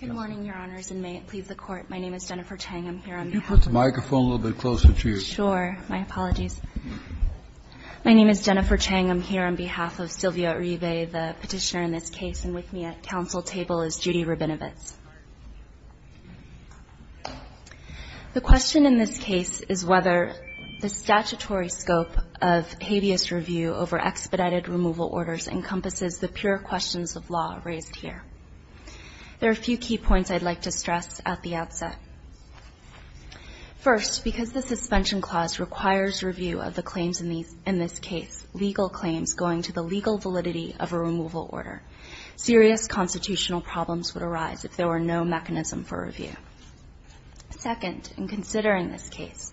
on behalf of Sylvia Uribe, the petitioner in this case, and with me at council table is Judy Rabinovitz. The question in this case is whether the statutory scope of habeas review over expedited removal orders encompasses the pure questions of law raised here. There are a few key points I'd like to stress at the outset. First, because the suspension clause requires review of the claims in this case, legal claims going to the legal validity of a removal order, serious constitutional problems would arise if there were no mechanism for review. Second, in considering this case,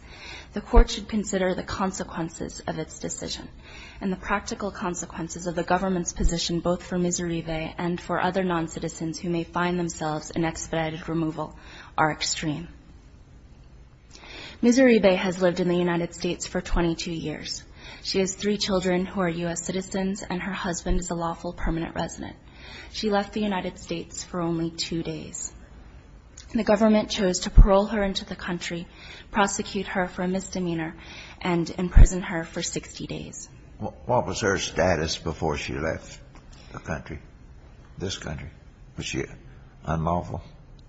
the court should consider the consequences of its decision and the practical consequences of the government's position both for Ms. Uribe and for other non-citizens who may find themselves in expedited removal are extreme. Ms. Uribe has lived in the United States for 22 years. She has three children who are U.S. citizens and her husband is a lawful permanent resident. She left the United States for only two days. The government chose to parole her into the country, prosecute her for a misdemeanor, and imprison her for 60 days. Kennedy, what was her status before she left the country, this country? Was she unlawful?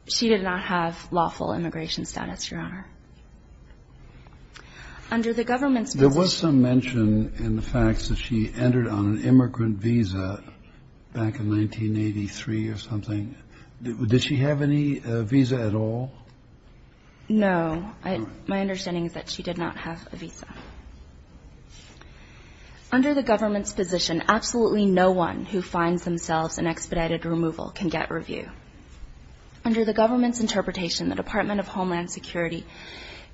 She did not have lawful immigration status, Your Honor. Under the government's position ---- There was some mention in the facts that she entered on an immigrant visa back in 1983 or something. Did she have any visa at all? No. My understanding is that she did not have a visa. Under the government's position, absolutely no one who finds themselves in expedited removal can get review. Under the government's interpretation, the Department of Homeland Security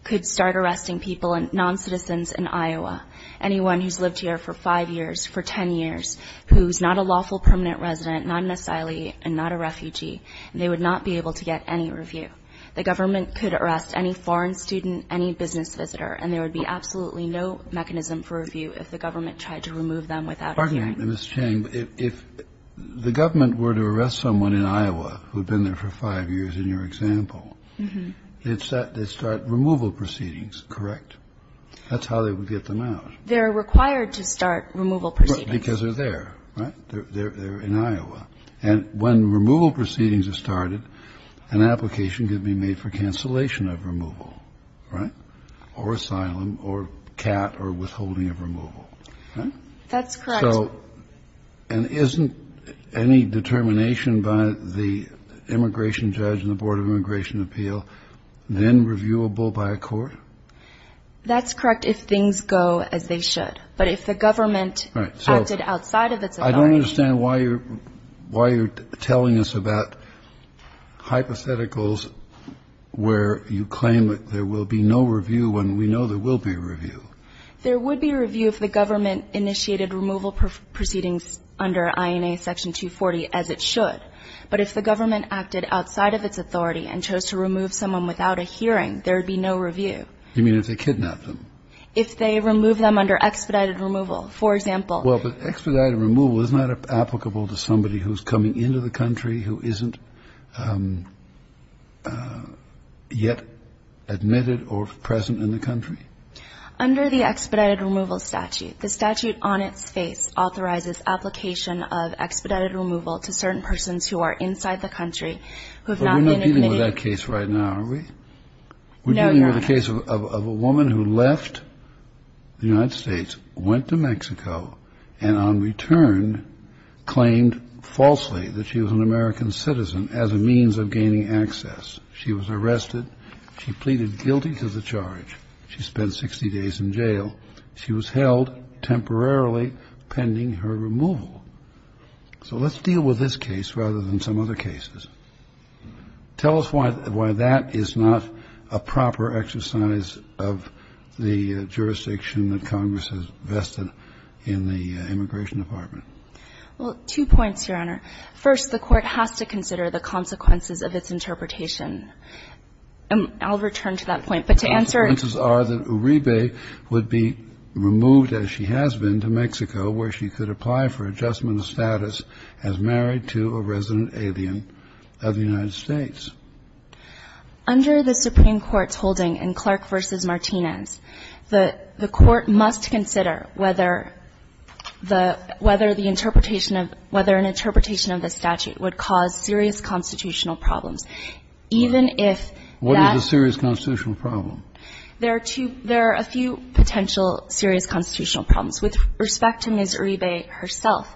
could start arresting people and non-citizens in Iowa, anyone who's lived here for five years, for ten years, who's not a lawful permanent resident, not an asylee, and not a refugee, and they would not be able to get any review. The government could arrest any foreign student, any business visitor, and there would be absolutely no mechanism for review if the government tried to remove them without a hearing. Pardon me, Ms. Chang, but if the government were to arrest someone in Iowa who had been there for five years, in your example, they'd start removal proceedings, correct? That's how they would get them out. They're required to start removal proceedings. Because they're there, right? They're in Iowa. And when removal proceedings are started, an application could be made for cancellation of removal, right? Or asylum, or CAT, or withholding of removal, right? That's correct. And isn't any determination by the immigration judge and the Board of Immigration Appeal then reviewable by a court? That's correct if things go as they should. But if the government acted outside of its authority... I don't understand why you're telling us about hypotheticals where you claim that there will be no review when we know there will be a review. There would be a review if the government initiated removal proceedings under INA Section 240, as it should. But if the government acted outside of its authority and chose to remove someone without a hearing, there would be no review. You mean if they kidnapped them? If they removed them under expedited removal, for example. Well, but expedited removal is not applicable to somebody who's coming into the country who isn't yet admitted or present in the country? Under the expedited removal statute, the statute on its face authorizes application of expedited removal to certain persons who are inside the country who have not been admitted. But we're not dealing with that case right now, are we? No, Your Honor. Remember the case of a woman who left the United States, went to Mexico, and on return claimed falsely that she was an American citizen as a means of gaining access. She was arrested. She pleaded guilty to the charge. She spent 60 days in jail. She was held temporarily pending her removal. So let's deal with this case rather than some other cases. Tell us why that is not a proper exercise of the jurisdiction that Congress has vested in the Immigration Department. Well, two points, Your Honor. First, the Court has to consider the consequences of its interpretation. I'll return to that point. But to answer it to you. The consequences are that Uribe would be removed, as she has been, to Mexico, where she could apply for adjustment of status as married to a resident alien of the United States. Under the Supreme Court's holding in Clark v. Martinez, the Court must consider whether the – whether the interpretation of – whether an interpretation of the statute would cause serious constitutional problems, even if that's the case. What is a serious constitutional problem? There are two – there are a few potential serious constitutional problems. With respect to Ms. Uribe herself,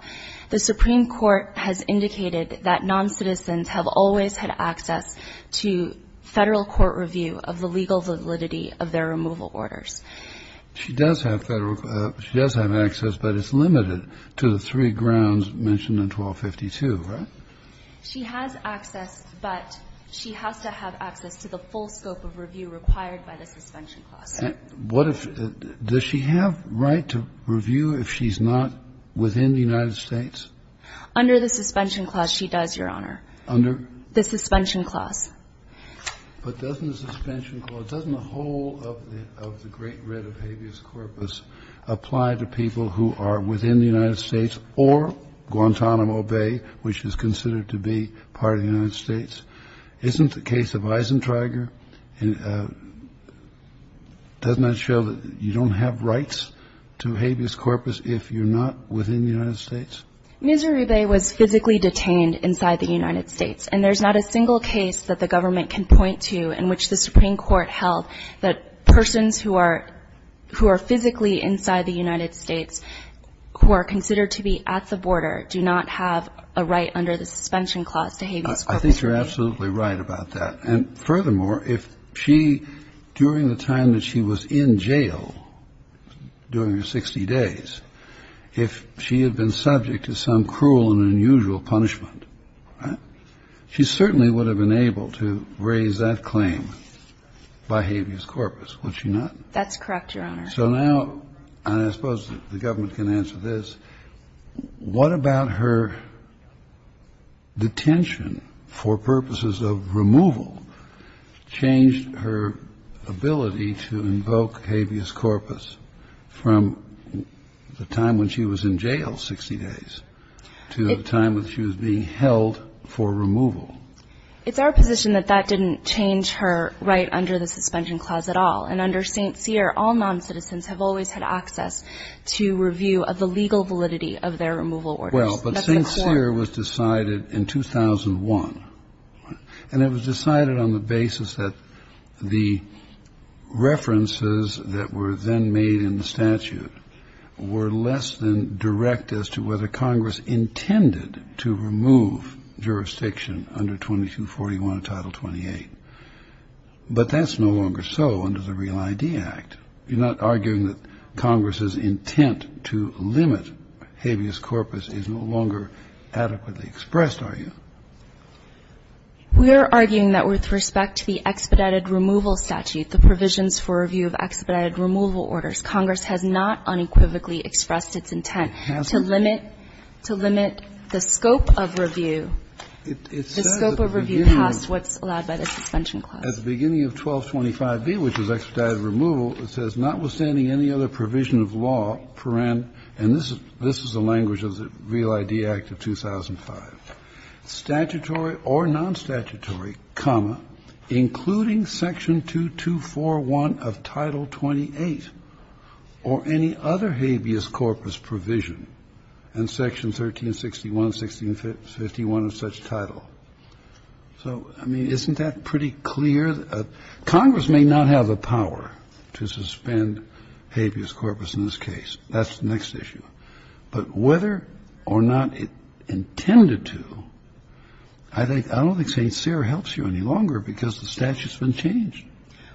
the Supreme Court has indicated that noncitizens have always had access to Federal court review of the legal validity of their removal orders. She does have Federal – she does have access, but it's limited to the three grounds mentioned in 1252, right? She has access, but she has to have access to the full scope of review required by the suspension clause. What if – does she have right to review if she's not within the United States? Under the suspension clause, she does, Your Honor. Under? The suspension clause. But doesn't the suspension clause – doesn't the whole of the great writ of habeas corpus apply to people who are within the United States or Guantanamo Bay, which is considered to be part of the United States? Isn't the case of Eisentrager – doesn't that show that you don't have rights to habeas corpus if you're not within the United States? Ms. Uribe was physically detained inside the United States, and there's not a single case that the government can point to in which the Supreme Court held that persons who are – who are physically inside the United States, who are considered to be at the border, do not have a right under the suspension clause to habeas corpus. I think you're absolutely right about that. And furthermore, if she – during the time that she was in jail, during her 60 days, if she had been subject to some cruel and unusual punishment, she certainly would have been able to raise that claim by habeas corpus, would she not? That's correct, Your Honor. So now – and I suppose the government can answer this – what about her detention for purposes of removal changed her ability to invoke habeas corpus from the time when she was in jail, 60 days, to the time when she was being held for removal? It's our position that that didn't change her right under the suspension clause at all. And under St. Cyr, all noncitizens have always had access to review of the legal validity of their removal orders. But St. Cyr was decided in 2001. And it was decided on the basis that the references that were then made in the statute were less than direct as to whether Congress intended to remove jurisdiction under 2241 of Title 28. But that's no longer so under the Real ID Act. You're not arguing that Congress's intent to limit habeas corpus is no longer adequately expressed, are you? We are arguing that with respect to the expedited removal statute, the provisions for review of expedited removal orders, Congress has not unequivocally expressed its intent to limit, to limit the scope of review, the scope of review past what's allowed by the suspension clause. At the beginning of 1225B, which is expedited removal, it says, notwithstanding any other provision of law, and this is the language of the Real ID Act of 2005, statutory or nonstatutory, including Section 2241 of Title 28 or any other habeas corpus provision in Section 1361, 1651 of such title. So, I mean, isn't that pretty clear? Congress may not have the power to suspend habeas corpus in this case. That's the next issue. But whether or not it intended to, I don't think St. Cyr helps you any longer because the statute's been changed.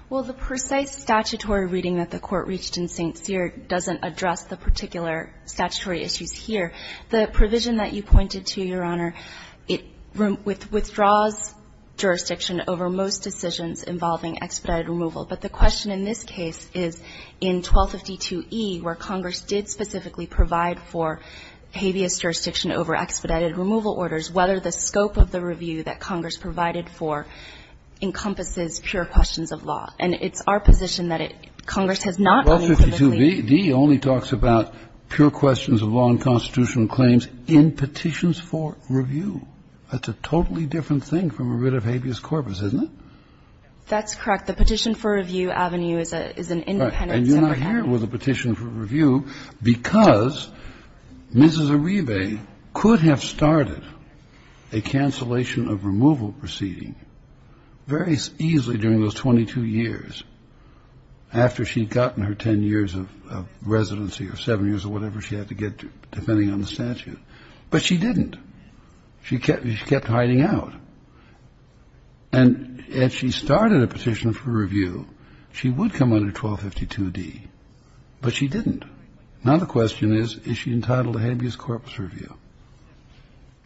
Well, the precise statutory reading that the Court reached in St. Cyr doesn't address the particular statutory issues here. The provision that you pointed to, Your Honor, it withdraws jurisdiction over most decisions involving expedited removal. But the question in this case is, in 1252E, where Congress did specifically provide for habeas jurisdiction over expedited removal orders, whether the scope of the review that Congress provided for encompasses pure questions of law. And it's our position that Congress has not unequivocally ---- 1252B, the only talks about pure questions of law and constitutional claims in petitions for review. That's a totally different thing from a writ of habeas corpus, isn't it? That's correct. The petition for review avenue is an independent separate avenue. Right. And you're not here with a petition for review because Mrs. Arrive could have started a cancellation of removal proceeding very easily during those 22 years after she'd gotten her 10 years of residency or 7 years or whatever she had to get to, depending on the statute. But she didn't. She kept hiding out. And if she started a petition for review, she would come under 1252D. But she didn't. Now the question is, is she entitled to habeas corpus review?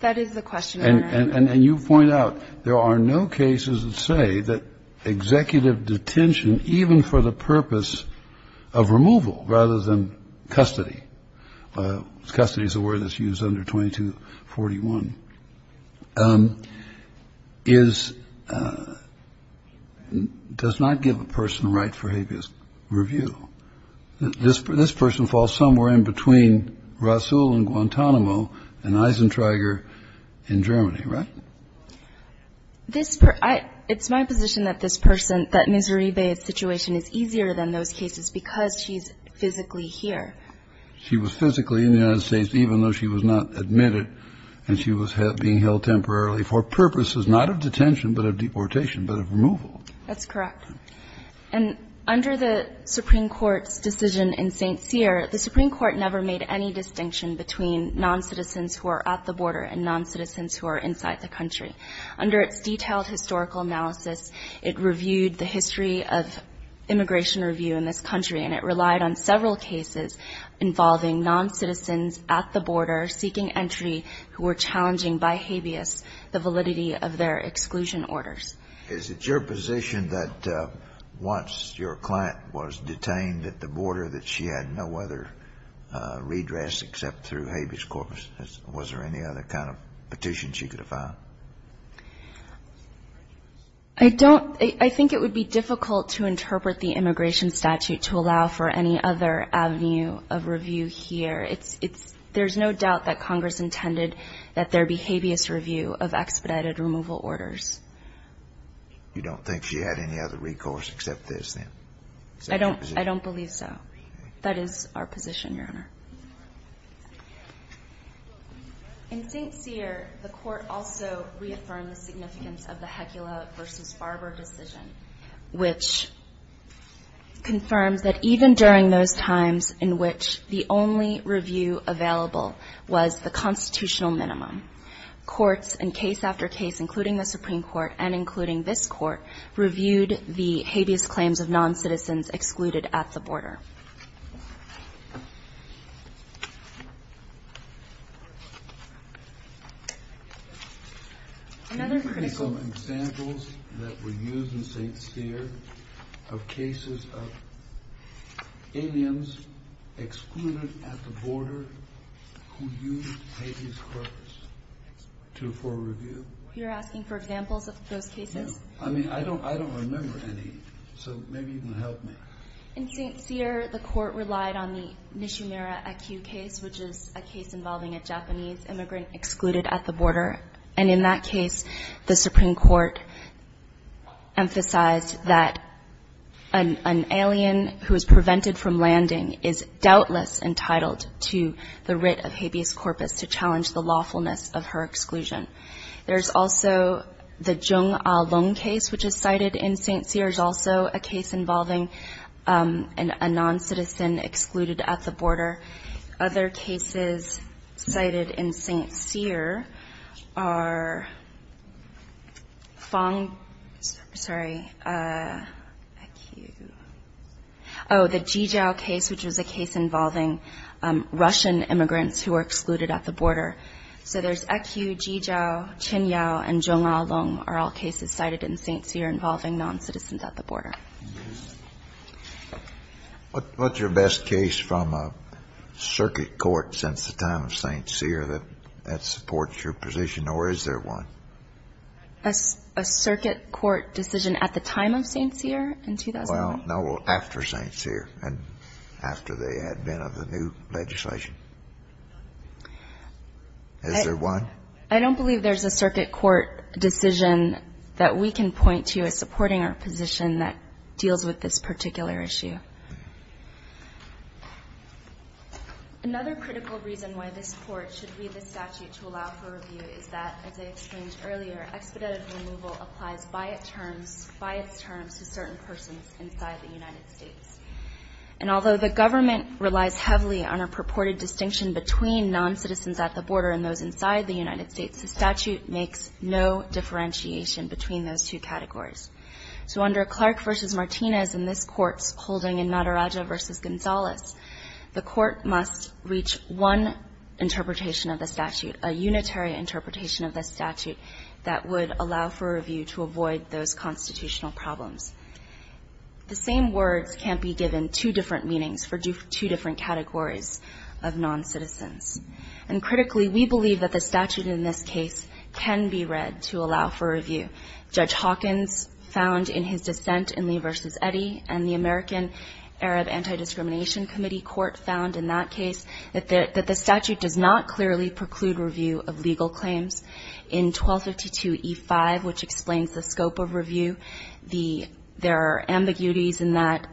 That is the question, Your Honor. And you point out there are no cases that say that executive detention, even for the custody is a word that's used under 2241, is ---- does not give a person a right for habeas review. This person falls somewhere in between Rasul in Guantanamo and Eisentrager in Germany, right? This ---- it's my position that this person, that Mrs. Arrive's situation is easier than those cases because she's physically here. She was physically in the United States even though she was not admitted and she was being held temporarily for purposes not of detention but of deportation, but of removal. That's correct. And under the Supreme Court's decision in St. Cyr, the Supreme Court never made any distinction between noncitizens who are at the border and noncitizens who are inside the country. Under its detailed historical analysis, it reviewed the history of immigration review in this country and it relied on several cases involving noncitizens at the border seeking entry who were challenging by habeas the validity of their exclusion orders. Is it your position that once your client was detained at the border, that she had no other redress except through habeas corpus? Was there any other kind of petition she could have filed? I don't ---- I think it would be difficult to interpret the immigration statute to allow for any other avenue of review here. It's ---- there's no doubt that Congress intended that there be habeas review of expedited removal orders. You don't think she had any other recourse except this then? I don't believe so. That is our position, Your Honor. In St. Cyr, the Court also reaffirmed the significance of the Hecula v. Barber decision, which confirms that even during those times in which the only review available was the constitutional minimum, courts in case after case, including the Supreme Court and including this Court, reviewed the habeas claims of noncitizens excluded at the border. Can you give me some examples that were used in St. Cyr of cases of aliens excluded at the border who used habeas corpus to afford review? You're asking for examples of those cases? I mean, I don't remember any, so maybe you can help me. In St. Cyr, the Court relied on the Nishimura-Akiu case, which is a case involving a Japanese immigrant excluded at the border. And in that case, the Supreme Court emphasized that an alien who is prevented from landing is doubtless entitled to the writ of habeas corpus to challenge the lawfulness of her exclusion. There's also the Jung Ah Lung case, which is cited in St. Cyr. It's also a case involving a noncitizen excluded at the border. Other cases cited in St. Cyr are Fong, sorry, Akiu. Oh, the Ji Jiao case, which was a case involving Russian immigrants who were excluded at the border. Ji Jiao, Chen Yao, and Jung Ah Lung are all cases cited in St. Cyr involving noncitizens at the border. What's your best case from a circuit court since the time of St. Cyr that supports your position, or is there one? A circuit court decision at the time of St. Cyr in 2001? Well, no, after St. Cyr and after the advent of the new legislation. Is there one? I don't believe there's a circuit court decision that we can point to as supporting our position that deals with this particular issue. Another critical reason why this Court should read the statute to allow for review is that, as I explained earlier, expedited removal applies by its terms to certain persons inside the United States. And although the government relies heavily on a purported distinction between noncitizens at the border and those inside the United States, the statute makes no differentiation between those two categories. So under Clark v. Martinez and this Court's holding in Maderaja v. Gonzalez, the Court must reach one interpretation of the statute, a unitary interpretation of the statute that would allow for review to avoid those constitutional problems. The same words can't be given two different meanings for two different categories of noncitizens. And critically, we believe that the statute in this case can be read to allow for review. Judge Hawkins found in his dissent in Lee v. Eddy and the American Arab Anti-Discrimination Committee Court found in that case that the statute does not clearly preclude review of legal claims. In 1252e5, which explains the scope of review, there are ambiguities in that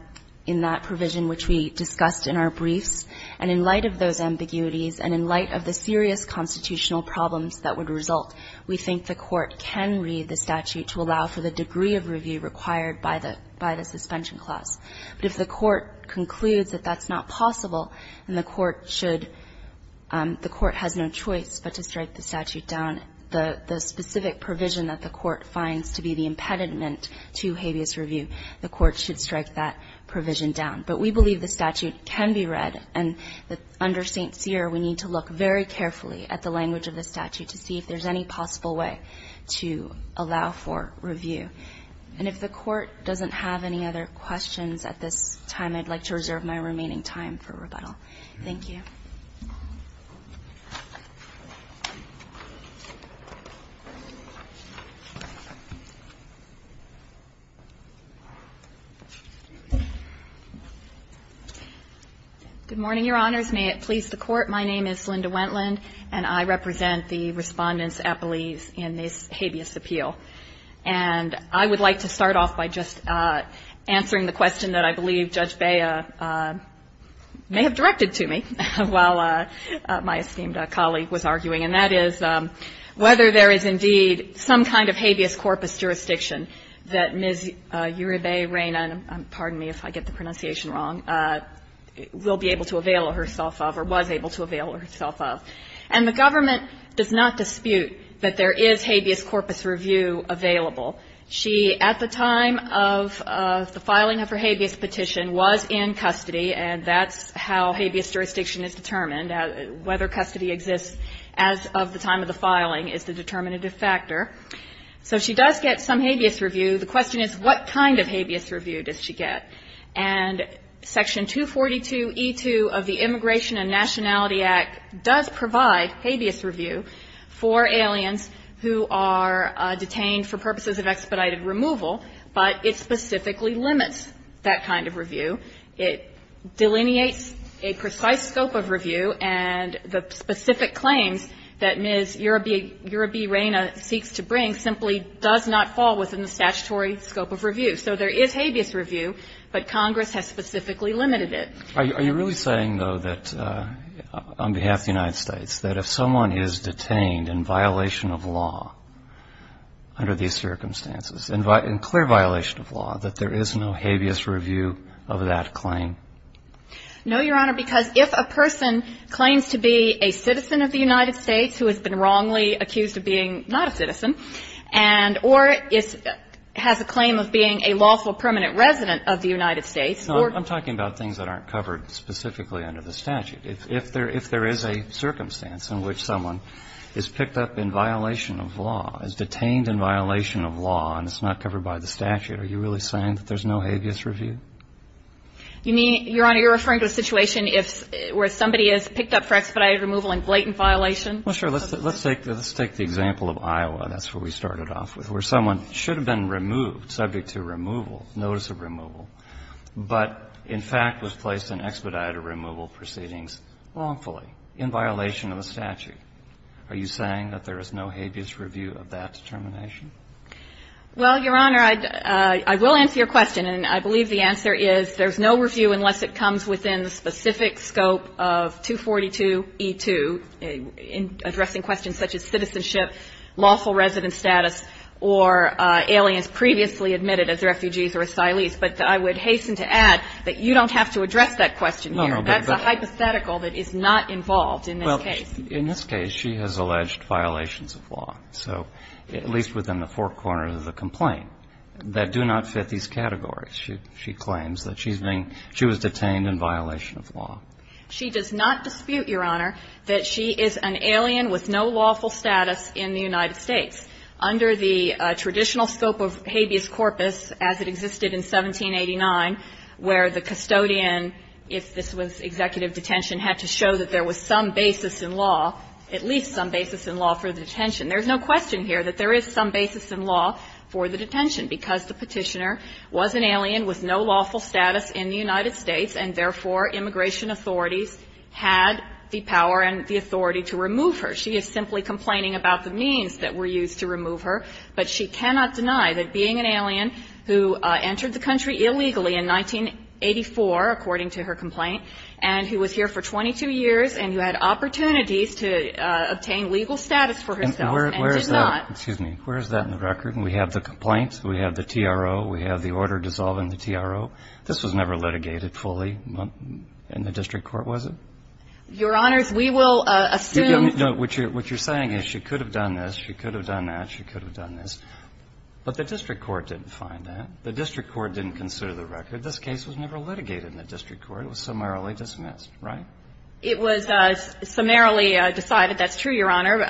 provision which we discussed in our briefs. And in light of those ambiguities and in light of the serious constitutional problems that would result, we think the Court can read the statute to allow for the degree of review required by the suspension clause. But if the Court concludes that that's not possible and the Court should the Court has no choice but to strike the statute down, the specific provision that the Court finds to be the impediment to habeas review, the Court should strike that provision down. But we believe the statute can be read. And under St. Cyr, we need to look very carefully at the language of the statute to see if there's any possible way to allow for review. And if the Court doesn't have any other questions at this time, I'd like to reserve my remaining time for rebuttal. Thank you. Wendland, Jr. Good morning, Your Honors. May it please the Court, my name is Linda Wendland, and I represent the Respondents at Belize in this habeas appeal. And I would like to start off by just answering the question that I believe Judge Bea may have directed to me while my esteemed colleague was arguing, and that is whether there is indeed some kind of habeas corpus jurisdiction that Ms. Uribe Reyna, pardon me, if I get the pronunciation wrong, will be able to avail herself of or was able to avail herself of. And the government does not dispute that there is habeas corpus review available. She, at the time of the filing of her habeas petition, was in custody, and that's how habeas jurisdiction is determined. Whether custody exists as of the time of the filing is the determinative factor. So she does get some habeas review. The question is, what kind of habeas review does she get? And Section 242e2 of the Immigration and Nationality Act does provide habeas review for aliens who are detained for purposes of expedited removal, but it specifically limits that kind of review. It delineates a precise scope of review, and the specific claims that Ms. Uribe Reyna seeks to bring simply does not fall within the statutory scope of review. So there is habeas review, but Congress has specifically limited it. Are you really saying, though, that on behalf of the United States, that if someone is detained in violation of law under these circumstances, in clear violation of law, that there is no habeas review of that claim? No, Your Honor, because if a person claims to be a citizen of the United States who has been wrongly accused of being not a citizen, and or has a claim of being a lawful permanent resident of the United States, or ---- I'm talking about things that aren't covered specifically under the statute. If there is a circumstance in which someone is picked up in violation of law, is detained in violation of law, and it's not covered by the statute, are you really saying that there's no habeas review? Your Honor, you're referring to a situation where somebody is picked up for expedited removal in blatant violation? Well, sure. Let's take the example of Iowa. That's where we started off with, where someone should have been removed, subject to removal, notice of removal, but in fact was placed in expedited removal proceedings wrongfully, in violation of the statute. Are you saying that there is no habeas review of that determination? Well, Your Honor, I will answer your question, and I believe the answer is there's no review unless it comes within the specific scope of 242E2, addressing questions such as citizenship, lawful resident status, or aliens previously admitted as refugees or asylees. But I would hasten to add that you don't have to address that question here. That's a hypothetical that is not involved in this case. Well, in this case, she has alleged violations of law. So at least within the four corners of the complaint that do not fit these categories. She claims that she was detained in violation of law. She does not dispute, Your Honor, that she is an alien with no lawful status in the United States. Under the traditional scope of habeas corpus, as it existed in 1789, where the custodian, if this was executive detention, had to show that there was some basis in law, at least some basis in law for the detention. There's no question here that there is some basis in law for the detention, because the Petitioner was an alien with no lawful status in the United States and, therefore, immigration authorities had the power and the authority to remove her. She is simply complaining about the means that were used to remove her. But she cannot deny that being an alien who entered the country illegally in 1984, according to her complaint, and who was here for 22 years and who had opportunities to obtain legal status for herself and did not. Excuse me. Where is that in the record? We have the complaint. We have the TRO. We have the order dissolving the TRO. This was never litigated fully in the district court, was it? Your Honors, we will assume that you're saying is she could have done this, she could have done that, she could have done this. But the district court didn't find that. The district court didn't consider the record. This case was never litigated in the district court. It was summarily dismissed, right? It was summarily decided. That's true, Your Honor.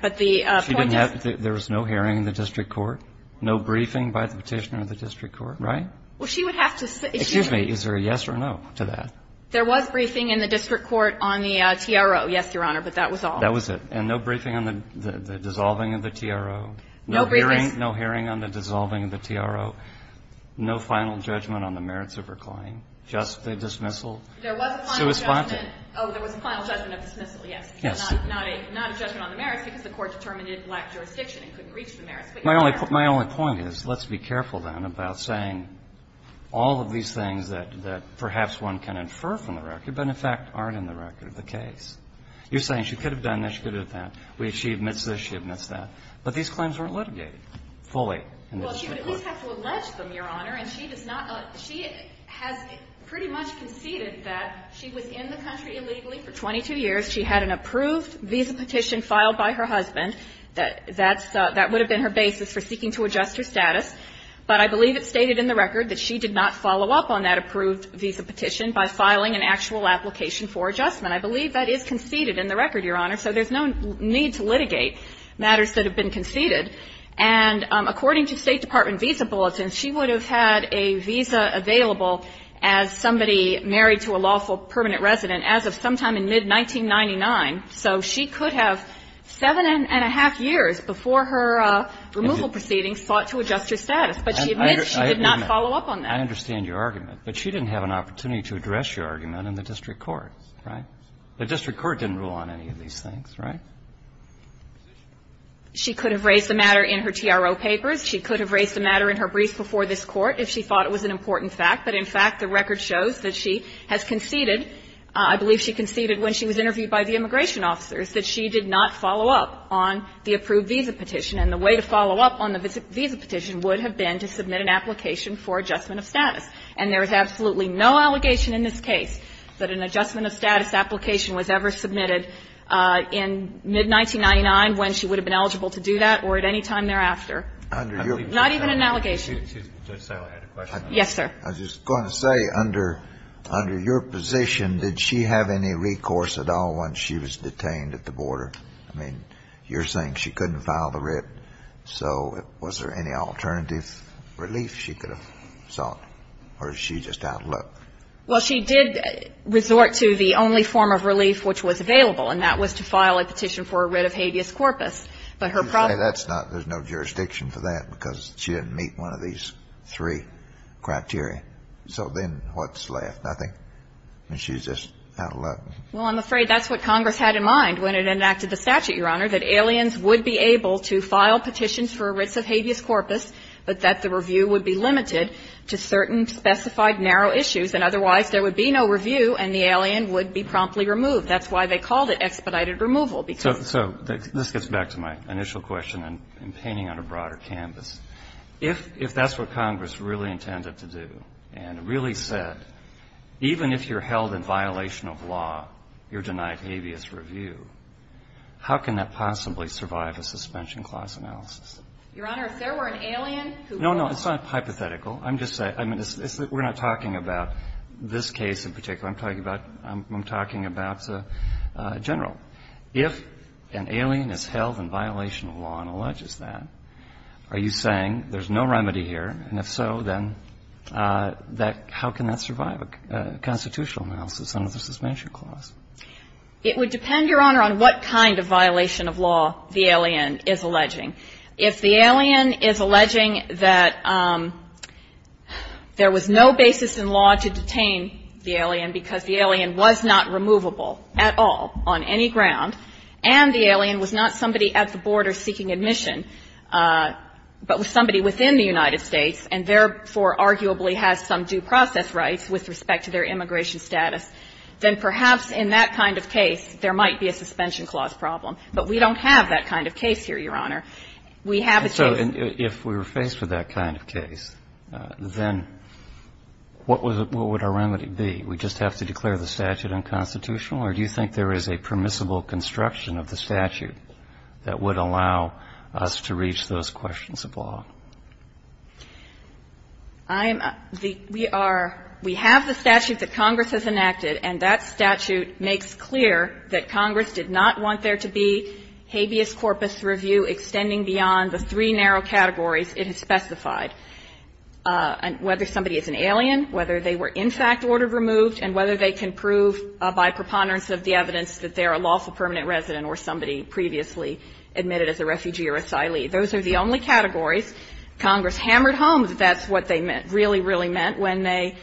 But the point is that there was no hearing in the district court, no briefing by the Petitioner of the district court, right? Well, she would have to say. Excuse me. Is there a yes or no to that? There was briefing in the district court on the TRO, yes, Your Honor, but that was all. That was it. And no briefing on the dissolving of the TRO? No briefing. No hearing on the dissolving of the TRO? No final judgment on the merits of her claim? Just the dismissal? There was a final judgment. Oh, there was a final judgment of dismissal, yes. Yes. Not a judgment on the merits because the court determined it lacked jurisdiction and couldn't reach the merits. My only point is, let's be careful, then, about saying all of these things that perhaps one can infer from the record but, in fact, aren't in the record of the case. You're saying she could have done this, she could have done that. She admits this, she admits that. But these claims weren't litigated fully in the district court. Well, she would at least have to allege them, Your Honor, and she does not – she has pretty much conceded that she was in the country illegally for 22 years. She had an approved visa petition filed by her husband. That's – that would have been her basis for seeking to adjust her status. But I believe it's stated in the record that she did not follow up on that approved visa petition by filing an actual application for adjustment. I believe that is conceded in the record, Your Honor, so there's no need to litigate matters that have been conceded. And according to State Department visa bulletins, she would have had a visa available as somebody married to a lawful permanent resident as of sometime in mid-1999, so she could have 7-1⁄2 years before her removal proceedings sought to adjust her status, but she admits she did not follow up on that. I understand your argument. But she didn't have an opportunity to address your argument in the district court, right? The district court didn't rule on any of these things, right? She could have raised the matter in her TRO papers. She could have raised the matter in her briefs before this Court if she thought it was an important fact. But in fact, the record shows that she has conceded, I believe she conceded when she was interviewed by the immigration officers, that she did not follow up on the approved visa petition, and the way to follow up on the visa petition would have been to submit an application for adjustment of status. And there is absolutely no allegation in this case that an adjustment of status application was ever submitted in mid-1999 when she would have been eligible to do that or at any time thereafter. Not even an allegation. Justice Alito had a question. Yes, sir. I was just going to say, under your position, did she have any recourse at all once she was detained at the border? I mean, you're saying she couldn't file the writ, so was there any alternative relief she could have sought? Or is she just out of luck? Well, she did resort to the only form of relief which was available, and that was to file a petition for a writ of habeas corpus. But her problem was that she didn't meet one of the requirements. She didn't meet one of these three criteria. So then what's left? I think she's just out of luck. Well, I'm afraid that's what Congress had in mind when it enacted the statute, Your Honor, that aliens would be able to file petitions for a writ of habeas corpus, but that the review would be limited to certain specified narrow issues, and otherwise there would be no review and the alien would be promptly removed. That's why they called it expedited removal. So this gets back to my initial question in painting on a broader canvas. If that's what Congress really intended to do and really said, even if you're held in violation of law, you're denied habeas review, how can that possibly survive a suspension clause analysis? Your Honor, if there were an alien who would want to do that? No, no. It's not hypothetical. I'm just saying we're not talking about this case in particular. I'm talking about General. If an alien is held in violation of law and alleges that, are you saying there's no remedy here, and if so, then how can that survive a constitutional analysis under the suspension clause? It would depend, Your Honor, on what kind of violation of law the alien is alleging. If the alien is alleging that there was no basis in law to detain the alien because the alien was not removable at all on any ground, and the alien was not somebody at the border seeking admission, but was somebody within the United States and therefore arguably has some due process rights with respect to their immigration status, then perhaps in that kind of case there might be a suspension clause problem. But we don't have that kind of case here, Your Honor. We have a case. And if we were faced with that kind of case, then what would our remedy be? We just have to declare the statute unconstitutional, or do you think there is a permissible construction of the statute that would allow us to reach those questions of law? I'm the ‑‑ we are ‑‑ we have the statute that Congress has enacted, and that statute makes clear that Congress did not want there to be habeas corpus review extending beyond the three narrow categories it has specified, whether somebody is an alien, whether they were in fact order removed, and whether they can prove by preponderance of the evidence that they are a lawful permanent resident or somebody previously admitted as a refugee or asylee. Those are the only categories. Congress hammered home that that's what they really, really meant when they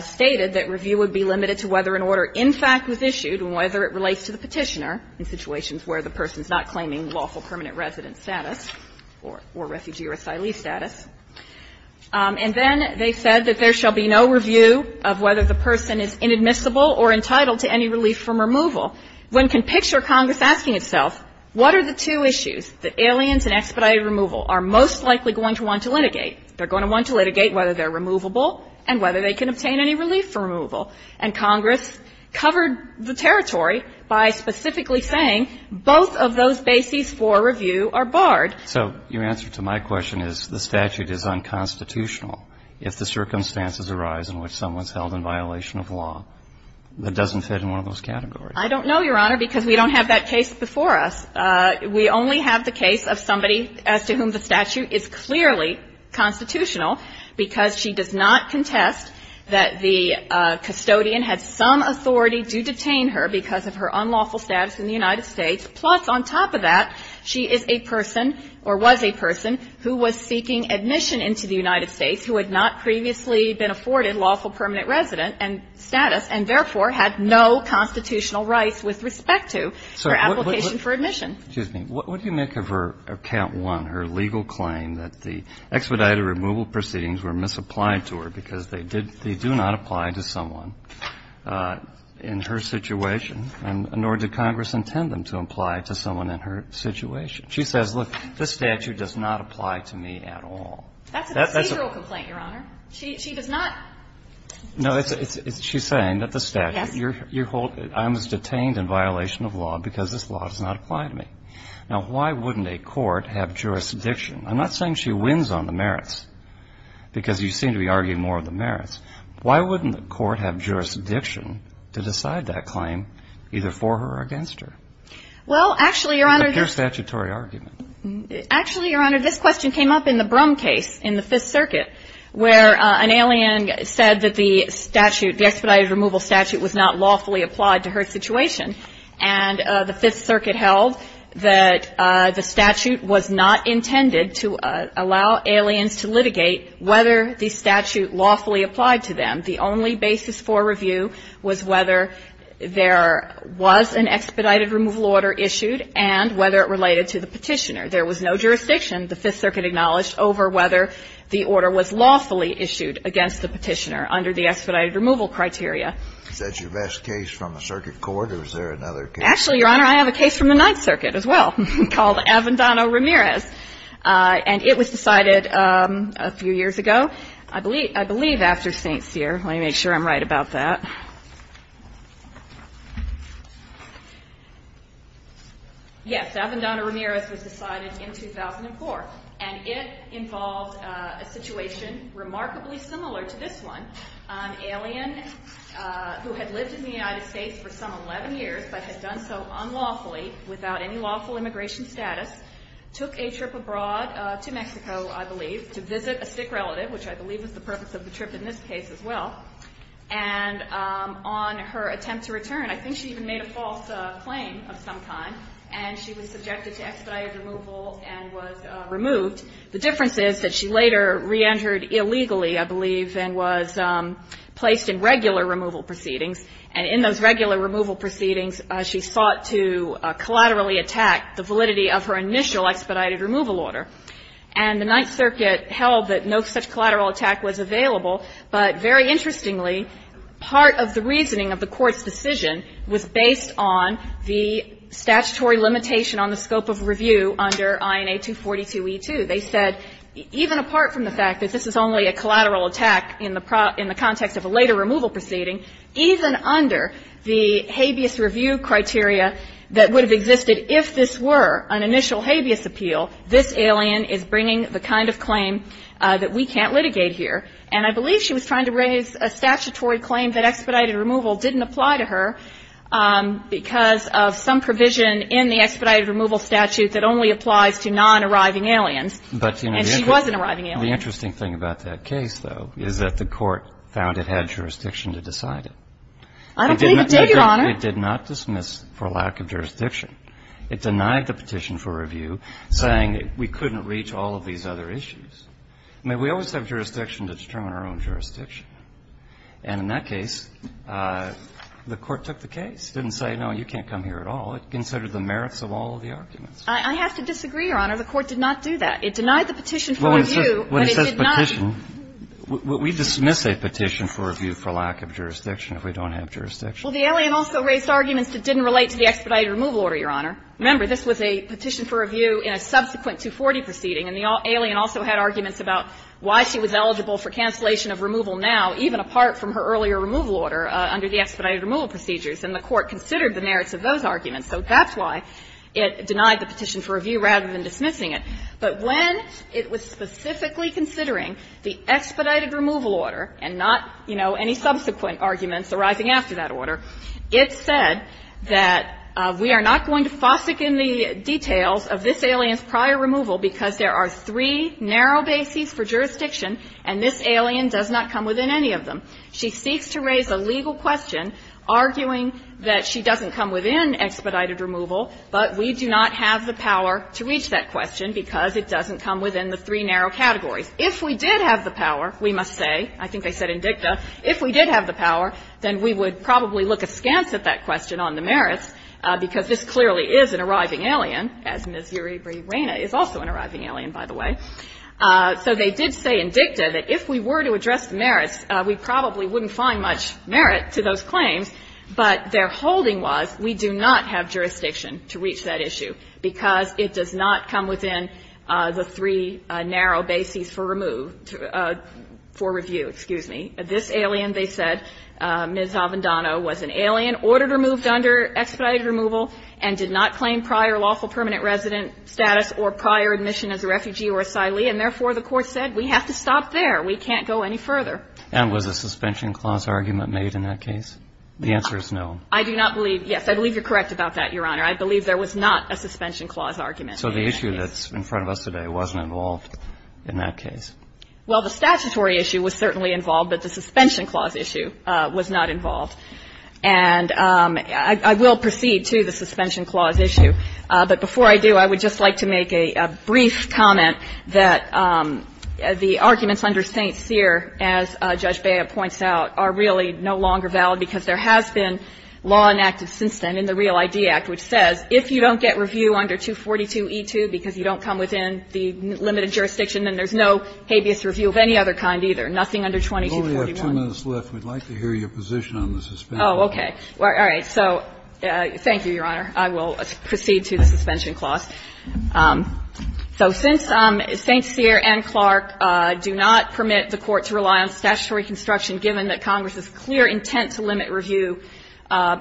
stated that review would be limited to whether an order in fact was issued and whether it relates to the Petitioner in situations where the person is not claiming lawful permanent resident status or refugee or asylee status. And then they said that there shall be no review of whether the person is inadmissible or entitled to any relief from removal. One can picture Congress asking itself, what are the two issues that aliens and expedited removal are most likely going to want to litigate? They're going to want to litigate whether they're removable and whether they can obtain any relief from removal. And Congress covered the territory by specifically saying both of those bases for review are barred. So your answer to my question is the statute is unconstitutional if the circumstances arise in which someone is held in violation of law. That doesn't fit in one of those categories. I don't know, Your Honor, because we don't have that case before us. We only have the case of somebody as to whom the statute is clearly constitutional because she does not contest that the custodian had some authority to detain her because of her unlawful status in the United States. Plus, on top of that, she is a person or was a person who was seeking admission into the United States who had not previously been afforded lawful permanent resident status and, therefore, had no constitutional rights with respect to her application for admission. So what do you make of her count one, her legal claim that the expedited removal proceedings were misapplied to her because they do not apply to someone in her situation, nor did Congress intend them to apply to someone in her situation? She says, look, this statute does not apply to me at all. That's a procedural complaint, Your Honor. She does not. No, she's saying that the statute, I was detained in violation of law because this law does not apply to me. Now, why wouldn't a court have jurisdiction? I'm not saying she wins on the merits because you seem to be arguing more of the merits. Why wouldn't the court have jurisdiction to decide that claim either for her or against her? Well, actually, Your Honor, this question came up in the Brum case in the Fifth The Fifth Circuit held that the statute, the expedited removal statute was not lawfully applied to her situation, and the Fifth Circuit held that the statute was not intended to allow aliens to litigate whether the statute lawfully applied to them. The only basis for review was whether there was an expedited removal order issued and whether it related to the Petitioner. There was no jurisdiction, the Fifth Circuit acknowledged, over whether the order was lawfully issued against the Petitioner under the expedited removal criteria. Is that your best case from the circuit court, or is there another case? Actually, Your Honor, I have a case from the Ninth Circuit as well called Avendano-Ramirez, and it was decided a few years ago. I believe after St. Cyr. Let me make sure I'm right about that. Yes, Avendano-Ramirez was decided in 2004, and it involved a situation remarkably similar to this one. An alien who had lived in the United States for some 11 years but had done so unlawfully without any lawful immigration status, took a trip abroad to Mexico, I believe, to visit a stick relative, which I believe was the purpose of the trip in this case as well, and on her attempt to return, I think she even made a false claim of some kind, and she was subjected to expedited removal and was removed. The difference is that she later reentered illegally, I believe, and was placed in regular removal proceedings, and in those regular removal proceedings, she sought to collaterally attack the validity of her initial expedited removal order. And the Ninth Circuit held that no such collateral attack was available, but very interestingly, part of the reasoning of the Court's decision was based on the statutory limitation on the scope of review under INA 242e2. They said even apart from the fact that this is only a collateral attack in the context of a later removal proceeding, even under the habeas review criteria that would have existed if this were an initial habeas appeal, this alien is bringing the kind of claim that we can't litigate here. And I believe she was trying to raise a statutory claim that expedited removal didn't apply to her because of some provision in the expedited removal statute that only applies to non-arriving aliens, and she was an arriving alien. But, you know, the interesting thing about that case, though, is that the Court found it had jurisdiction to decide it. I don't believe it did, Your Honor. It did not dismiss for lack of jurisdiction. It denied the petition for review, saying we couldn't reach all of these other issues. I mean, we always have jurisdiction to determine our own jurisdiction. And in that case, the Court took the case. It didn't say, no, you can't come here at all. It considered the merits of all of the arguments. I have to disagree, Your Honor. The Court did not do that. It denied the petition for review, but it did not. Well, when it says petition, we dismiss a petition for review for lack of jurisdiction if we don't have jurisdiction. Well, the alien also raised arguments that didn't relate to the expedited removal order, Your Honor. Remember, this was a petition for review in a subsequent 240 proceeding, and the alien also had arguments about why she was eligible for cancellation of removal now, even apart from her earlier removal order under the expedited removal procedures. And the Court considered the merits of those arguments. So that's why it denied the petition for review rather than dismissing it. Now, there are many subsequent arguments arising after that order. It said that we are not going to fossick in the details of this alien's prior removal because there are three narrow bases for jurisdiction, and this alien does not come within any of them. She seeks to raise a legal question arguing that she doesn't come within expedited removal, but we do not have the power to reach that question because it doesn't come within the three narrow categories. If we did have the power, we must say, I think they said in dicta, if we did have the power, then we would probably look askance at that question on the merits, because this clearly is an arriving alien, as Ms. Uribe-Reyna is also an arriving alien, by the way. So they did say in dicta that if we were to address the merits, we probably wouldn't find much merit to those claims, but their holding was we do not have jurisdiction to reach that issue because it does not come within the three narrow bases for remove to, for review, excuse me. This alien, they said, Ms. Avendano, was an alien, ordered removed under expedited removal, and did not claim prior lawful permanent resident status or prior admission as a refugee or asylee, and therefore the court said we have to stop there. We can't go any further. And was a suspension clause argument made in that case? The answer is no. I believe you're correct about that, Your Honor. I believe there was not a suspension clause argument in that case. So the issue that's in front of us today wasn't involved in that case? Well, the statutory issue was certainly involved, but the suspension clause issue was not involved. And I will proceed to the suspension clause issue, but before I do, I would just like to make a brief comment that the arguments under St. Cyr, as Judge Bea points out, are really no longer valid because there has been law enacted since then in the statute that says if you don't get review under 242e2 because you don't come within the limited jurisdiction, then there's no habeas review of any other kind, either. Nothing under 2241. We only have two minutes left. We'd like to hear your position on the suspension. Oh, okay. All right. So thank you, Your Honor. I will proceed to the suspension clause. So since St. Cyr and Clark do not permit the Court to rely on statutory construction given that Congress's clear intent to limit review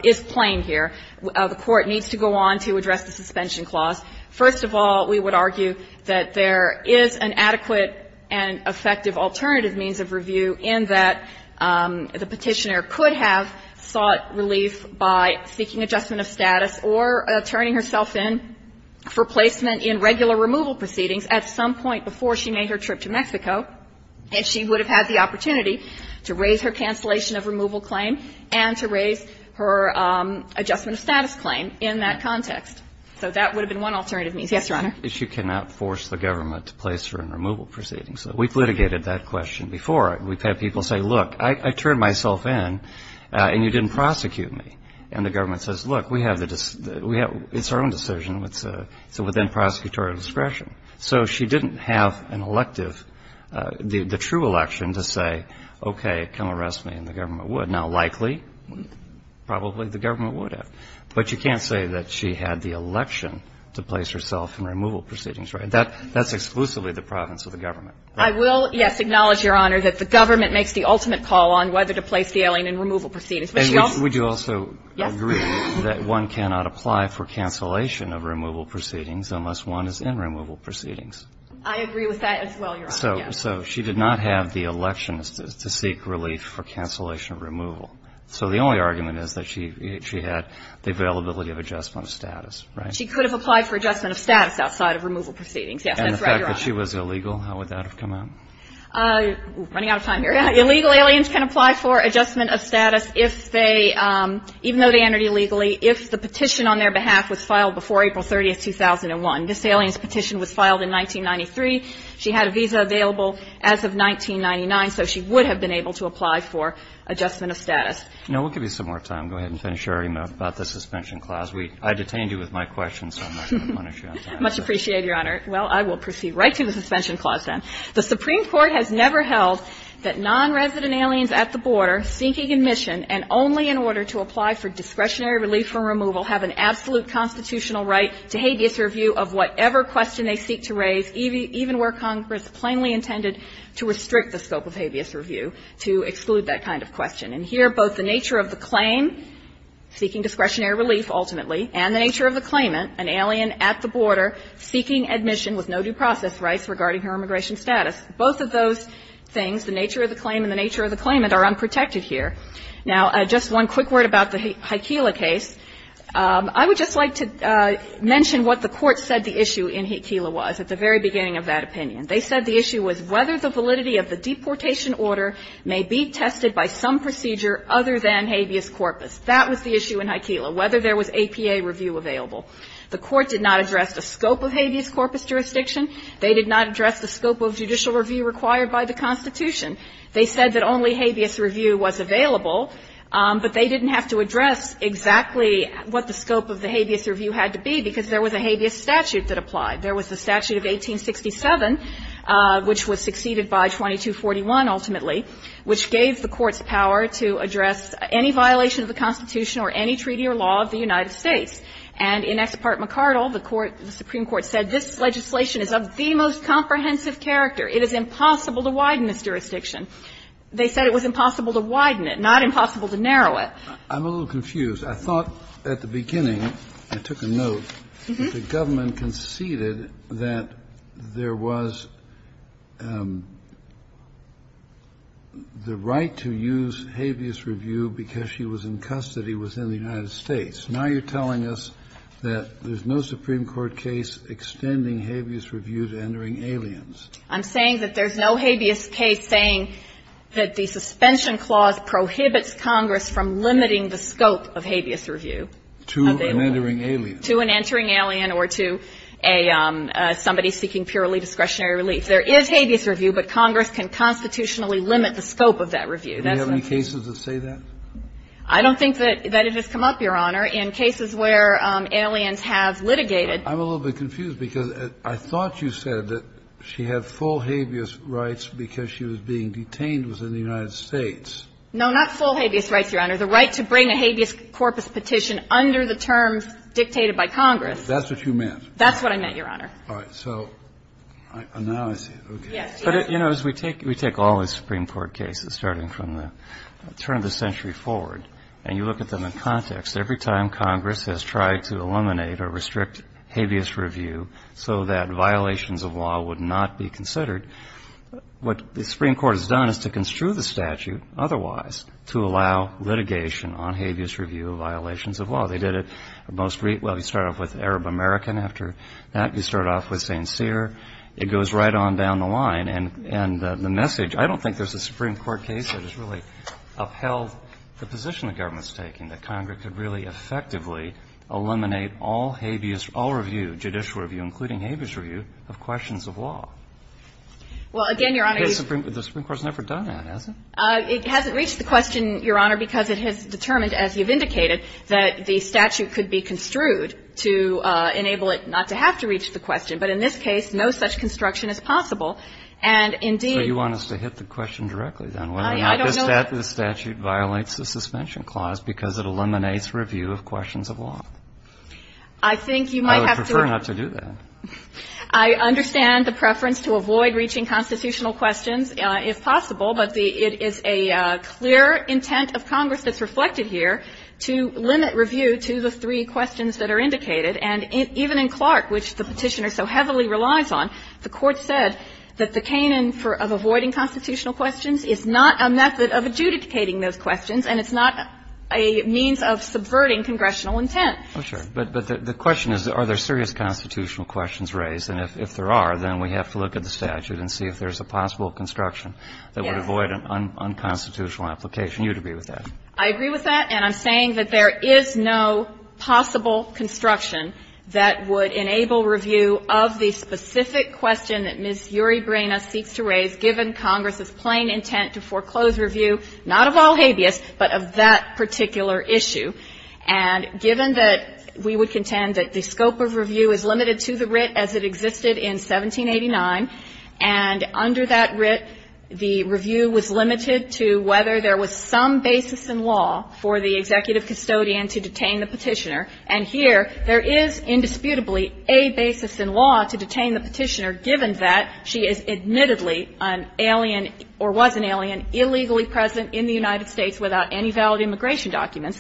is plain here, the Court needs to go on to address the suspension clause. First of all, we would argue that there is an adequate and effective alternative means of review in that the Petitioner could have sought relief by seeking adjustment of status or turning herself in for placement in regular removal proceedings at some point before she made her trip to Mexico, and she would have had the opportunity to raise her cancellation of removal claim and to raise her adjustment of status claim in that context. So that would have been one alternative means. Yes, Your Honor. She cannot force the government to place her in removal proceedings. We've litigated that question before. We've had people say, look, I turned myself in and you didn't prosecute me. And the government says, look, we have the decision. It's our own decision. It's within prosecutorial discretion. So she didn't have an elective, the true election to say, okay, come arrest me, and the government would. Now, likely, probably the government would have. But you can't say that she had the election to place herself in removal proceedings, right? That's exclusively the province of the government. I will, yes, acknowledge, Your Honor, that the government makes the ultimate call on whether to place the alien in removal proceedings. Would you also agree that one cannot apply for cancellation of removal proceedings unless one is in removal proceedings? I agree with that as well, Your Honor. So she did not have the election to seek relief for cancellation of removal. So the only argument is that she had the availability of adjustment of status, right? She could have applied for adjustment of status outside of removal proceedings. Yes, that's right, Your Honor. And the fact that she was illegal, how would that have come out? Running out of time here. Illegal aliens can apply for adjustment of status if they, even though they entered illegally, if the petition on their behalf was filed before April 30, 2001. This alien's petition was filed in 1993. She had a visa available as of 1999, so she would have been able to apply for adjustment of status. Now, we'll give you some more time. Go ahead and finish your argument about the suspension clause. I detained you with my question, so I'm not going to punish you on time. Much appreciated, Your Honor. Well, I will proceed right to the suspension clause then. The Supreme Court has never held that nonresident aliens at the border seeking admission and only in order to apply for discretionary relief from removal have an absolute constitutional right to habeas review of whatever question they seek to raise, even where Congress plainly intended to restrict the scope of habeas review to exclude that kind of question. And here, both the nature of the claim, seeking discretionary relief ultimately, and the nature of the claimant, an alien at the border seeking admission with no due process rights regarding her immigration status. Both of those things, the nature of the claim and the nature of the claimant, are unprotected here. Now, just one quick word about the Haikila case. I would just like to mention what the Court said the issue in Haikila was at the very beginning of that opinion. They said the issue was whether the validity of the deportation order may be tested by some procedure other than habeas corpus. That was the issue in Haikila, whether there was APA review available. The Court did not address the scope of habeas corpus jurisdiction. They did not address the scope of judicial review required by the Constitution. They said that only habeas review was available. But they didn't have to address exactly what the scope of the habeas review had to be, because there was a habeas statute that applied. There was the statute of 1867, which was succeeded by 2241 ultimately, which gave the Court's power to address any violation of the Constitution or any treaty or law of the United States. And in Exe Part MacArdle, the Court, the Supreme Court said, this legislation is of the most comprehensive character. It is impossible to widen this jurisdiction. They said it was impossible to widen it, not impossible to narrow it. Kennedy. I'm a little confused. I thought at the beginning, I took a note, the government conceded that there was the right to use habeas review because she was in custody within the United States. Now you're telling us that there's no Supreme Court case extending habeas review to entering aliens. I'm saying that there's no habeas case saying that the suspension clause prohibits Congress from limiting the scope of habeas review. To an entering alien. To an entering alien or to a somebody seeking purely discretionary relief. There is habeas review, but Congress can constitutionally limit the scope of that review. Do you have any cases that say that? I don't think that it has come up, Your Honor. In cases where aliens have litigated. I'm a little bit confused because I thought you said that she had full habeas rights because she was being detained within the United States. No, not full habeas rights, Your Honor. The right to bring a habeas corpus petition under the terms dictated by Congress. That's what you meant. That's what I meant, Your Honor. All right. So now I see it. Yes. But, you know, as we take all the Supreme Court cases starting from the turn of the century forward and you look at them in context, every time Congress has tried to eliminate or restrict habeas review so that violations of law would not be considered, what the Supreme Court has done is to construe the statute otherwise to allow litigation on habeas review of violations of law. They did it, well, you start off with Arab American. After that, you start off with St. Cyr. It goes right on down the line. And the message, I don't think there's a Supreme Court case that has really upheld the position the government's taking, that Congress could really effectively eliminate all habeas, all review, judicial review, including habeas review, of questions of law. Well, again, Your Honor, you've been. The Supreme Court has never done that, has it? It hasn't reached the question, Your Honor, because it has determined, as you've indicated, that the statute could be construed to enable it not to have to reach the question. But in this case, no such construction is possible. And, indeed. So you want us to hit the question directly, then, whether or not this statute violates the suspension clause because it eliminates review of questions of law? I think you might have to. I would prefer not to do that. I understand the preference to avoid reaching constitutional questions, if possible. But it is a clear intent of Congress that's reflected here to limit review to the three questions that are indicated, and even in Clark, which the Petitioner so heavily relies on, the Court said that the canin of avoiding constitutional questions is not a method of adjudicating those questions, and it's not a means of subverting congressional intent. Oh, sure. But the question is, are there serious constitutional questions raised? And if there are, then we have to look at the statute and see if there's a possible construction that would avoid an unconstitutional application. Do you agree with that? I agree with that. And I'm saying that there is no possible construction that would enable review of the specific question that Ms. Uribrena seeks to raise, given Congress's plain intent to foreclose review, not of all habeas, but of that particular issue. And given that we would contend that the scope of review is limited to the writ as it existed in 1789, and under that writ the review was limited to whether there was some basis in law for the executive custodian to detain the Petitioner, and here there is indisputably a basis in law to detain the Petitioner, given that she is admittedly an alien or was an alien illegally present in the United States without any valid immigration documents.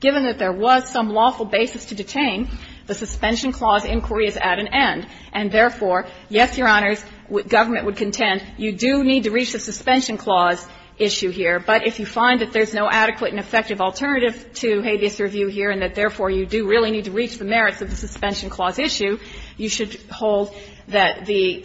Given that there was some lawful basis to detain, the Suspension Clause inquiry is at an end, and therefore, yes, Your Honors, government would contend you do need to reach the Suspension Clause issue here, but if you find that there's no adequate and effective alternative to habeas review here and that, therefore, you do really need to reach the merits of the Suspension Clause issue, you should hold that the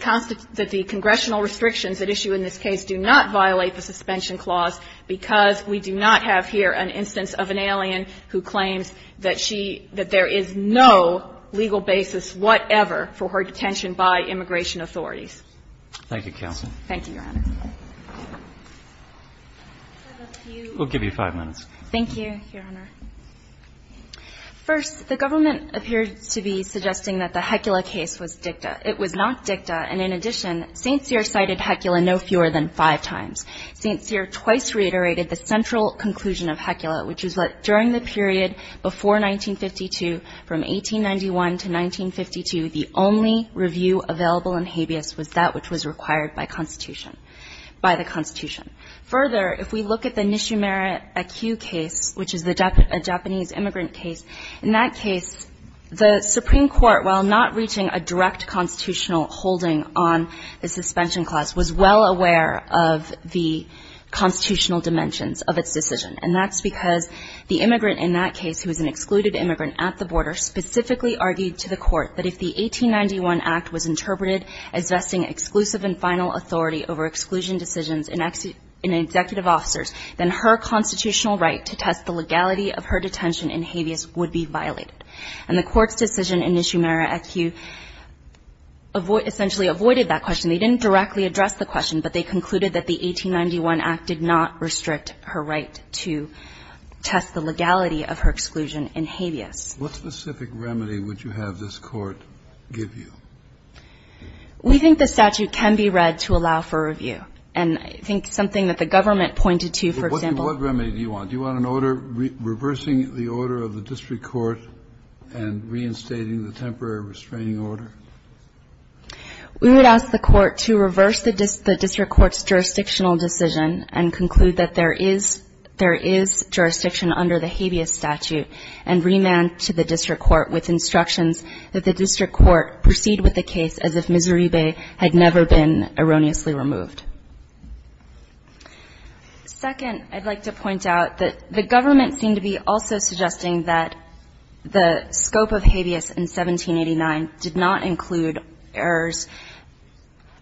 congressional restrictions at issue in this case do not violate the Suspension Clause because we do not have here an instance of an alien who claims that she – that there is no legal basis whatever for her detention by immigration authorities. Thank you, Counsel. Thank you, Your Honor. We'll give you five minutes. Thank you, Your Honor. First, the government appears to be suggesting that the Hecula case was dicta. It was not dicta, and in addition, St. Cyr cited Hecula no fewer than five times. St. Cyr twice reiterated the central conclusion of Hecula, which is that during the period before 1952, from 1891 to 1952, the only review available in habeas was that which was required by Constitution – by the Constitution. Further, if we look at the Nishimura-Akiu case, which is the Japanese immigrant case, in that case, the Supreme Court, while not reaching a direct constitutional holding on the Suspension Clause, was well aware of the constitutional dimensions of its decision, and that's because the immigrant in that case, who was an excluded immigrant at the border, specifically argued to the Court that if the 1891 Act was interpreted as vesting exclusive and final authority over exclusion decisions in executive officers, then her constitutional right to test the legality of her detention in habeas would be violated. And the Court's decision in Nishimura-Akiu essentially avoided that question. They didn't directly address the question, but they concluded that the 1891 Act did not restrict her right to test the legality of her exclusion in habeas. Kennedy, what specific remedy would you have this Court give you? We think the statute can be read to allow for review. And I think something that the government pointed to, for example – What remedy do you want? Do you want an order reversing the order of the district court and reinstating the temporary restraining order? We would ask the Court to reverse the district court's jurisdictional decision and conclude that there is – there is jurisdiction under the habeas statute and remand to the district court with instructions that the district court proceed with the case as if Missouri Bay had never been erroneously removed. Second, I'd like to point out that the government seemed to be also suggesting that the scope of habeas in 1789 did not include errors –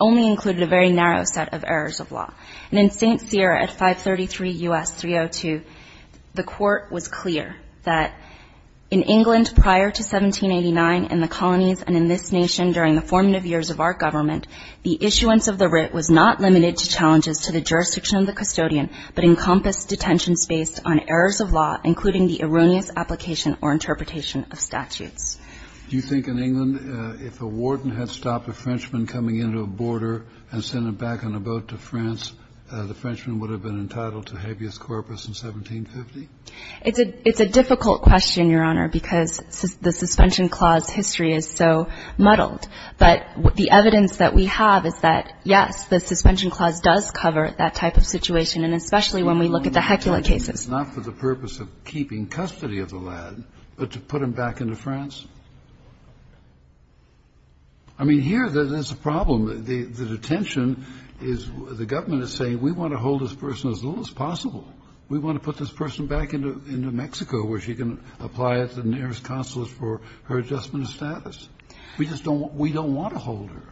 only included a very narrow set of errors of law. And in St. Cyr at 533 U.S. 302, the Court was clear that in England prior to 1789, in the colonies and in this nation during the formative years of our government, the issuance of the writ was not limited to challenges to the jurisdiction of the custodian, but encompassed detentions based on errors of law, including the erroneous application or interpretation of statutes. Do you think in England, if a warden had stopped a Frenchman coming into a border and sent him back on a boat to France, the Frenchman would have been entitled to habeas corpus in 1750? It's a – it's a difficult question, Your Honor, because the suspension clause history is so muddled. But the evidence that we have is that, yes, the suspension clause does cover that type of situation, and especially when we look at the Hecula cases. And it's not for the purpose of keeping custody of the lad, but to put him back into France. I mean, here, there's a problem. The detention is – the government is saying, we want to hold this person as little as possible. We want to put this person back into Mexico, where she can apply at the nearest consulate for her adjustment of status. We just don't – we don't want to hold her.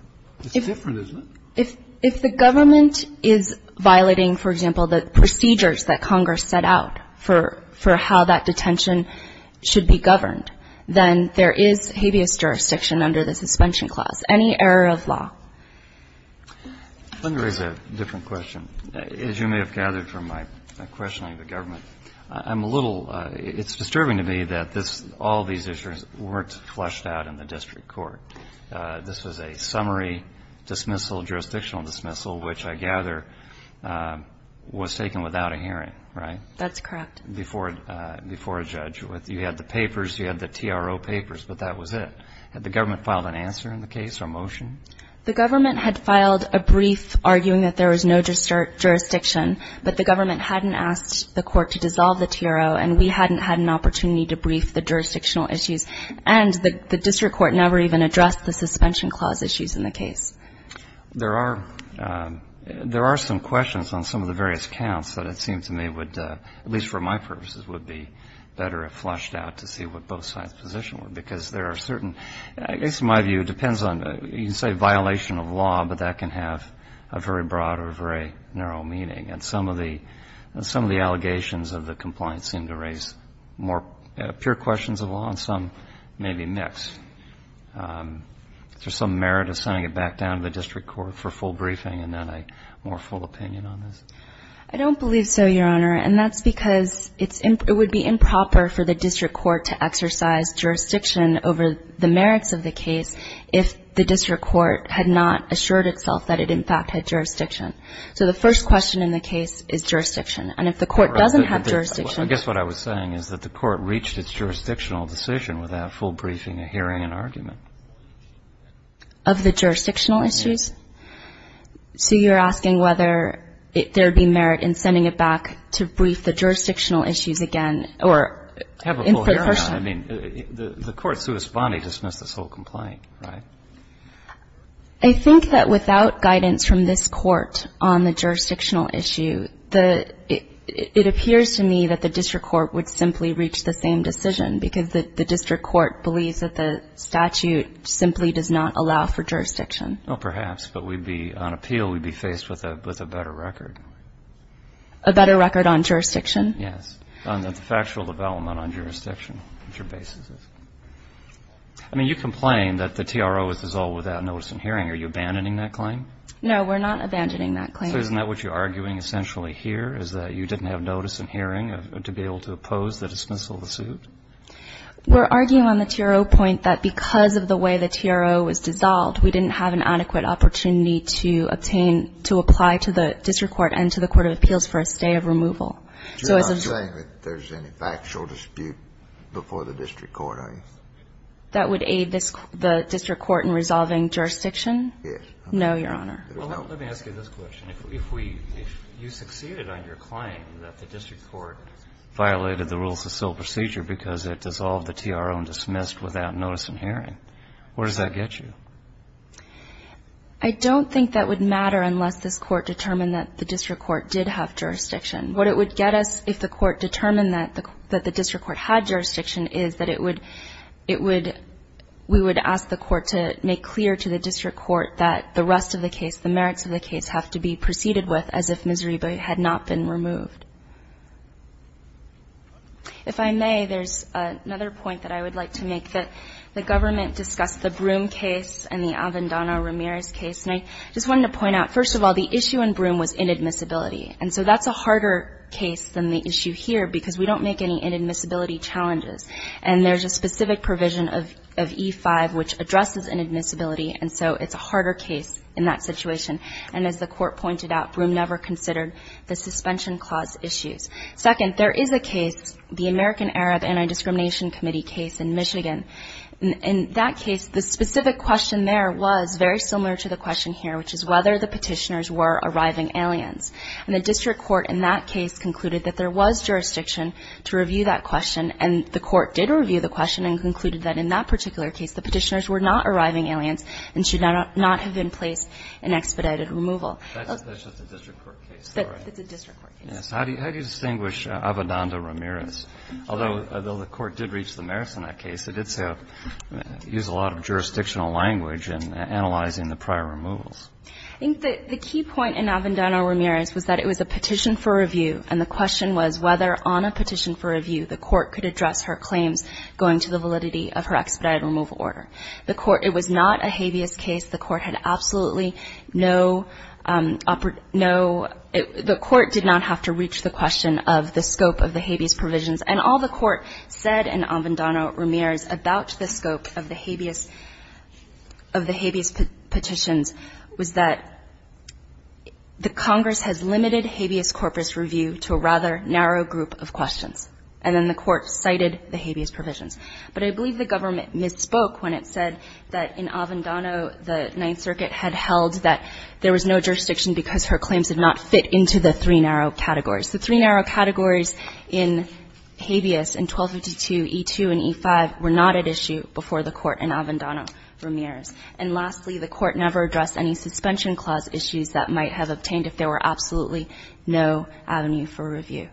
It's different, isn't it? If the government is violating, for example, the procedures that Congress set out for how that detention should be governed, then there is habeas jurisdiction under the suspension clause. Any error of law. Let me raise a different question. As you may have gathered from my questioning of the government, I'm a little – it's disturbing to me that this – all these issues weren't flushed out in the district court. This was a summary dismissal, jurisdictional dismissal, which I gather was taken without a hearing, right? That's correct. Before a judge. You had the papers. You had the TRO papers. But that was it. Had the government filed an answer in the case or a motion? The government had filed a brief arguing that there was no jurisdiction. But the government hadn't asked the court to dissolve the TRO, and we hadn't had an opportunity to brief the jurisdictional issues. And the district court never even addressed the suspension clause issues in the case. There are – there are some questions on some of the various counts that it seems to me would, at least for my purposes, would be better if flushed out to see what both sides' position were. Because there are certain – I guess my view depends on – you can say violation of law, but that can have a very broad or a very narrow meaning. And some of the – some of the allegations of the compliance seem to raise more pure questions of law, and some maybe mixed. Is there some merit of sending it back down to the district court for full briefing and then a more full opinion on this? I don't believe so, Your Honor. And that's because it's – it would be improper for the district court to exercise jurisdiction over the merits of the case if the district court had not assured itself that it, in fact, had jurisdiction. So the first question in the case is jurisdiction. And if the court doesn't have jurisdiction – Well, I guess what I was saying is that the court reached its jurisdictional decision without full briefing or hearing an argument. Of the jurisdictional issues? Yes. So you're asking whether there would be merit in sending it back to brief the jurisdictional issues again or – Have a full hearing on it. I mean, the court's sui spondi dismissed this whole complaint, right? I think that without guidance from this court on the jurisdictional issue, the – it appears to me that the district court would simply reach the same decision, because the district court believes that the statute simply does not allow for jurisdiction. Well, perhaps. But we'd be – on appeal, we'd be faced with a better record. A better record on jurisdiction? Yes. On the factual development on jurisdiction, which your basis is. I mean, you complain that the TRO is dissolved without notice and hearing. Are you abandoning that claim? No, we're not abandoning that claim. Isn't that what you're arguing essentially here, is that you didn't have notice and hearing to be able to oppose the dismissal of the suit? We're arguing on the TRO point that because of the way the TRO was dissolved, we didn't have an adequate opportunity to obtain – to apply to the district court and to the court of appeals for a stay of removal. So as a – You're not saying that there's any factual dispute before the district court, are you? That would aid this – the district court in resolving jurisdiction? Yes. No, Your Honor. Well, let me ask you this question. If we – if you succeeded on your claim that the district court violated the rules of civil procedure because it dissolved the TRO and dismissed without notice and hearing, where does that get you? I don't think that would matter unless this court determined that the district court did have jurisdiction. What it would get us if the court determined that the district court had jurisdiction is that it would – it would – we would ask the court to make clear to the district court that the rest of the case, the merits of the case, have to be proceeded with as if Miserere had not been removed. If I may, there's another point that I would like to make, that the government discussed the Broome case and the Avendano-Ramirez case, and I just wanted to point out, first of all, the issue in Broome was inadmissibility. And so that's a harder case than the issue here because we don't make any inadmissibility challenges. And there's a specific provision of E-5 which addresses inadmissibility, and so it's a harder case in that situation. And as the court pointed out, Broome never considered the suspension clause issues. Second, there is a case, the American Arab Anti-Discrimination Committee case in Michigan. In that case, the specific question there was very similar to the question here, which is whether the petitioners were arriving aliens. And the district court in that case concluded that there was jurisdiction to review that question, and the court did review the question and concluded that in that particular case, the petitioners were not arriving aliens and should not have been placed in expedited removal. Breyer. That's just a district court case, though, right? It's a district court case. How do you distinguish Avendano-Ramirez? Although the court did reach the merits in that case, it did use a lot of jurisdictional language in analyzing the prior removals. I think the key point in Avendano-Ramirez was that it was a petition for review, and the question was whether on a petition for review the court could address her claims going to the validity of her expedited removal order. The court – it was not a habeas case. The court had absolutely no – the court did not have to reach the question of the scope of the habeas provisions. And all the court said in Avendano-Ramirez about the scope of the habeas petitions was that the Congress has limited habeas corpus review to a rather narrow group of questions. And then the court cited the habeas provisions. But I believe the government misspoke when it said that in Avendano the Ninth Circuit had held that there was no jurisdiction because her claims did not fit into the three narrow categories. The three narrow categories in habeas in 1252e2 and e5 were not at issue before the court in Avendano-Ramirez. And lastly, the court never addressed any suspension clause issues that might have obtained if there were absolutely no avenue for review.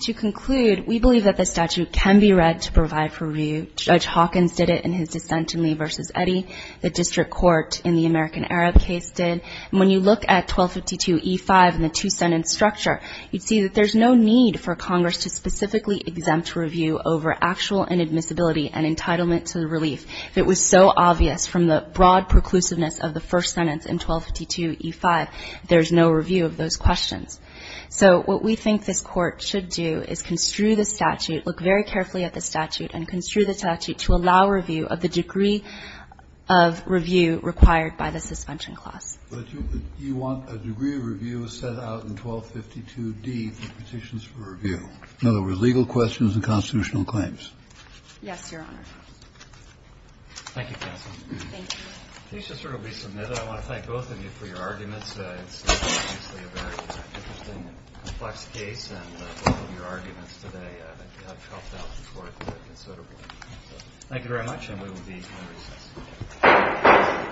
To conclude, we believe that the statute can be read to provide for review. Judge Hawkins did it in his dissent in Lee v. Eddy. The district court in the American Arab case did. And when you look at 1252e5 and the two-sentence structure, you'd see that there's no need for Congress to specifically exempt review over actual inadmissibility and entitlement to the relief. If it was so obvious from the broad preclusiveness of the first sentence in 1252e5, there's no review of those questions. So what we think this Court should do is construe the statute, look very carefully at the statute, and construe the statute to allow review of the degree of review required by the suspension clause. Kennedy. But you want a degree of review set out in 1252d for petitions for review. In other words, legal questions and constitutional claims. Yes, Your Honor. Thank you, counsel. Thank you. Please just sort of resubmit it. I want to thank both of you for your arguments. It's obviously a very interesting and complex case, and both of your arguments today have helped out the Court considerably. Thank you very much, and we will be at recess.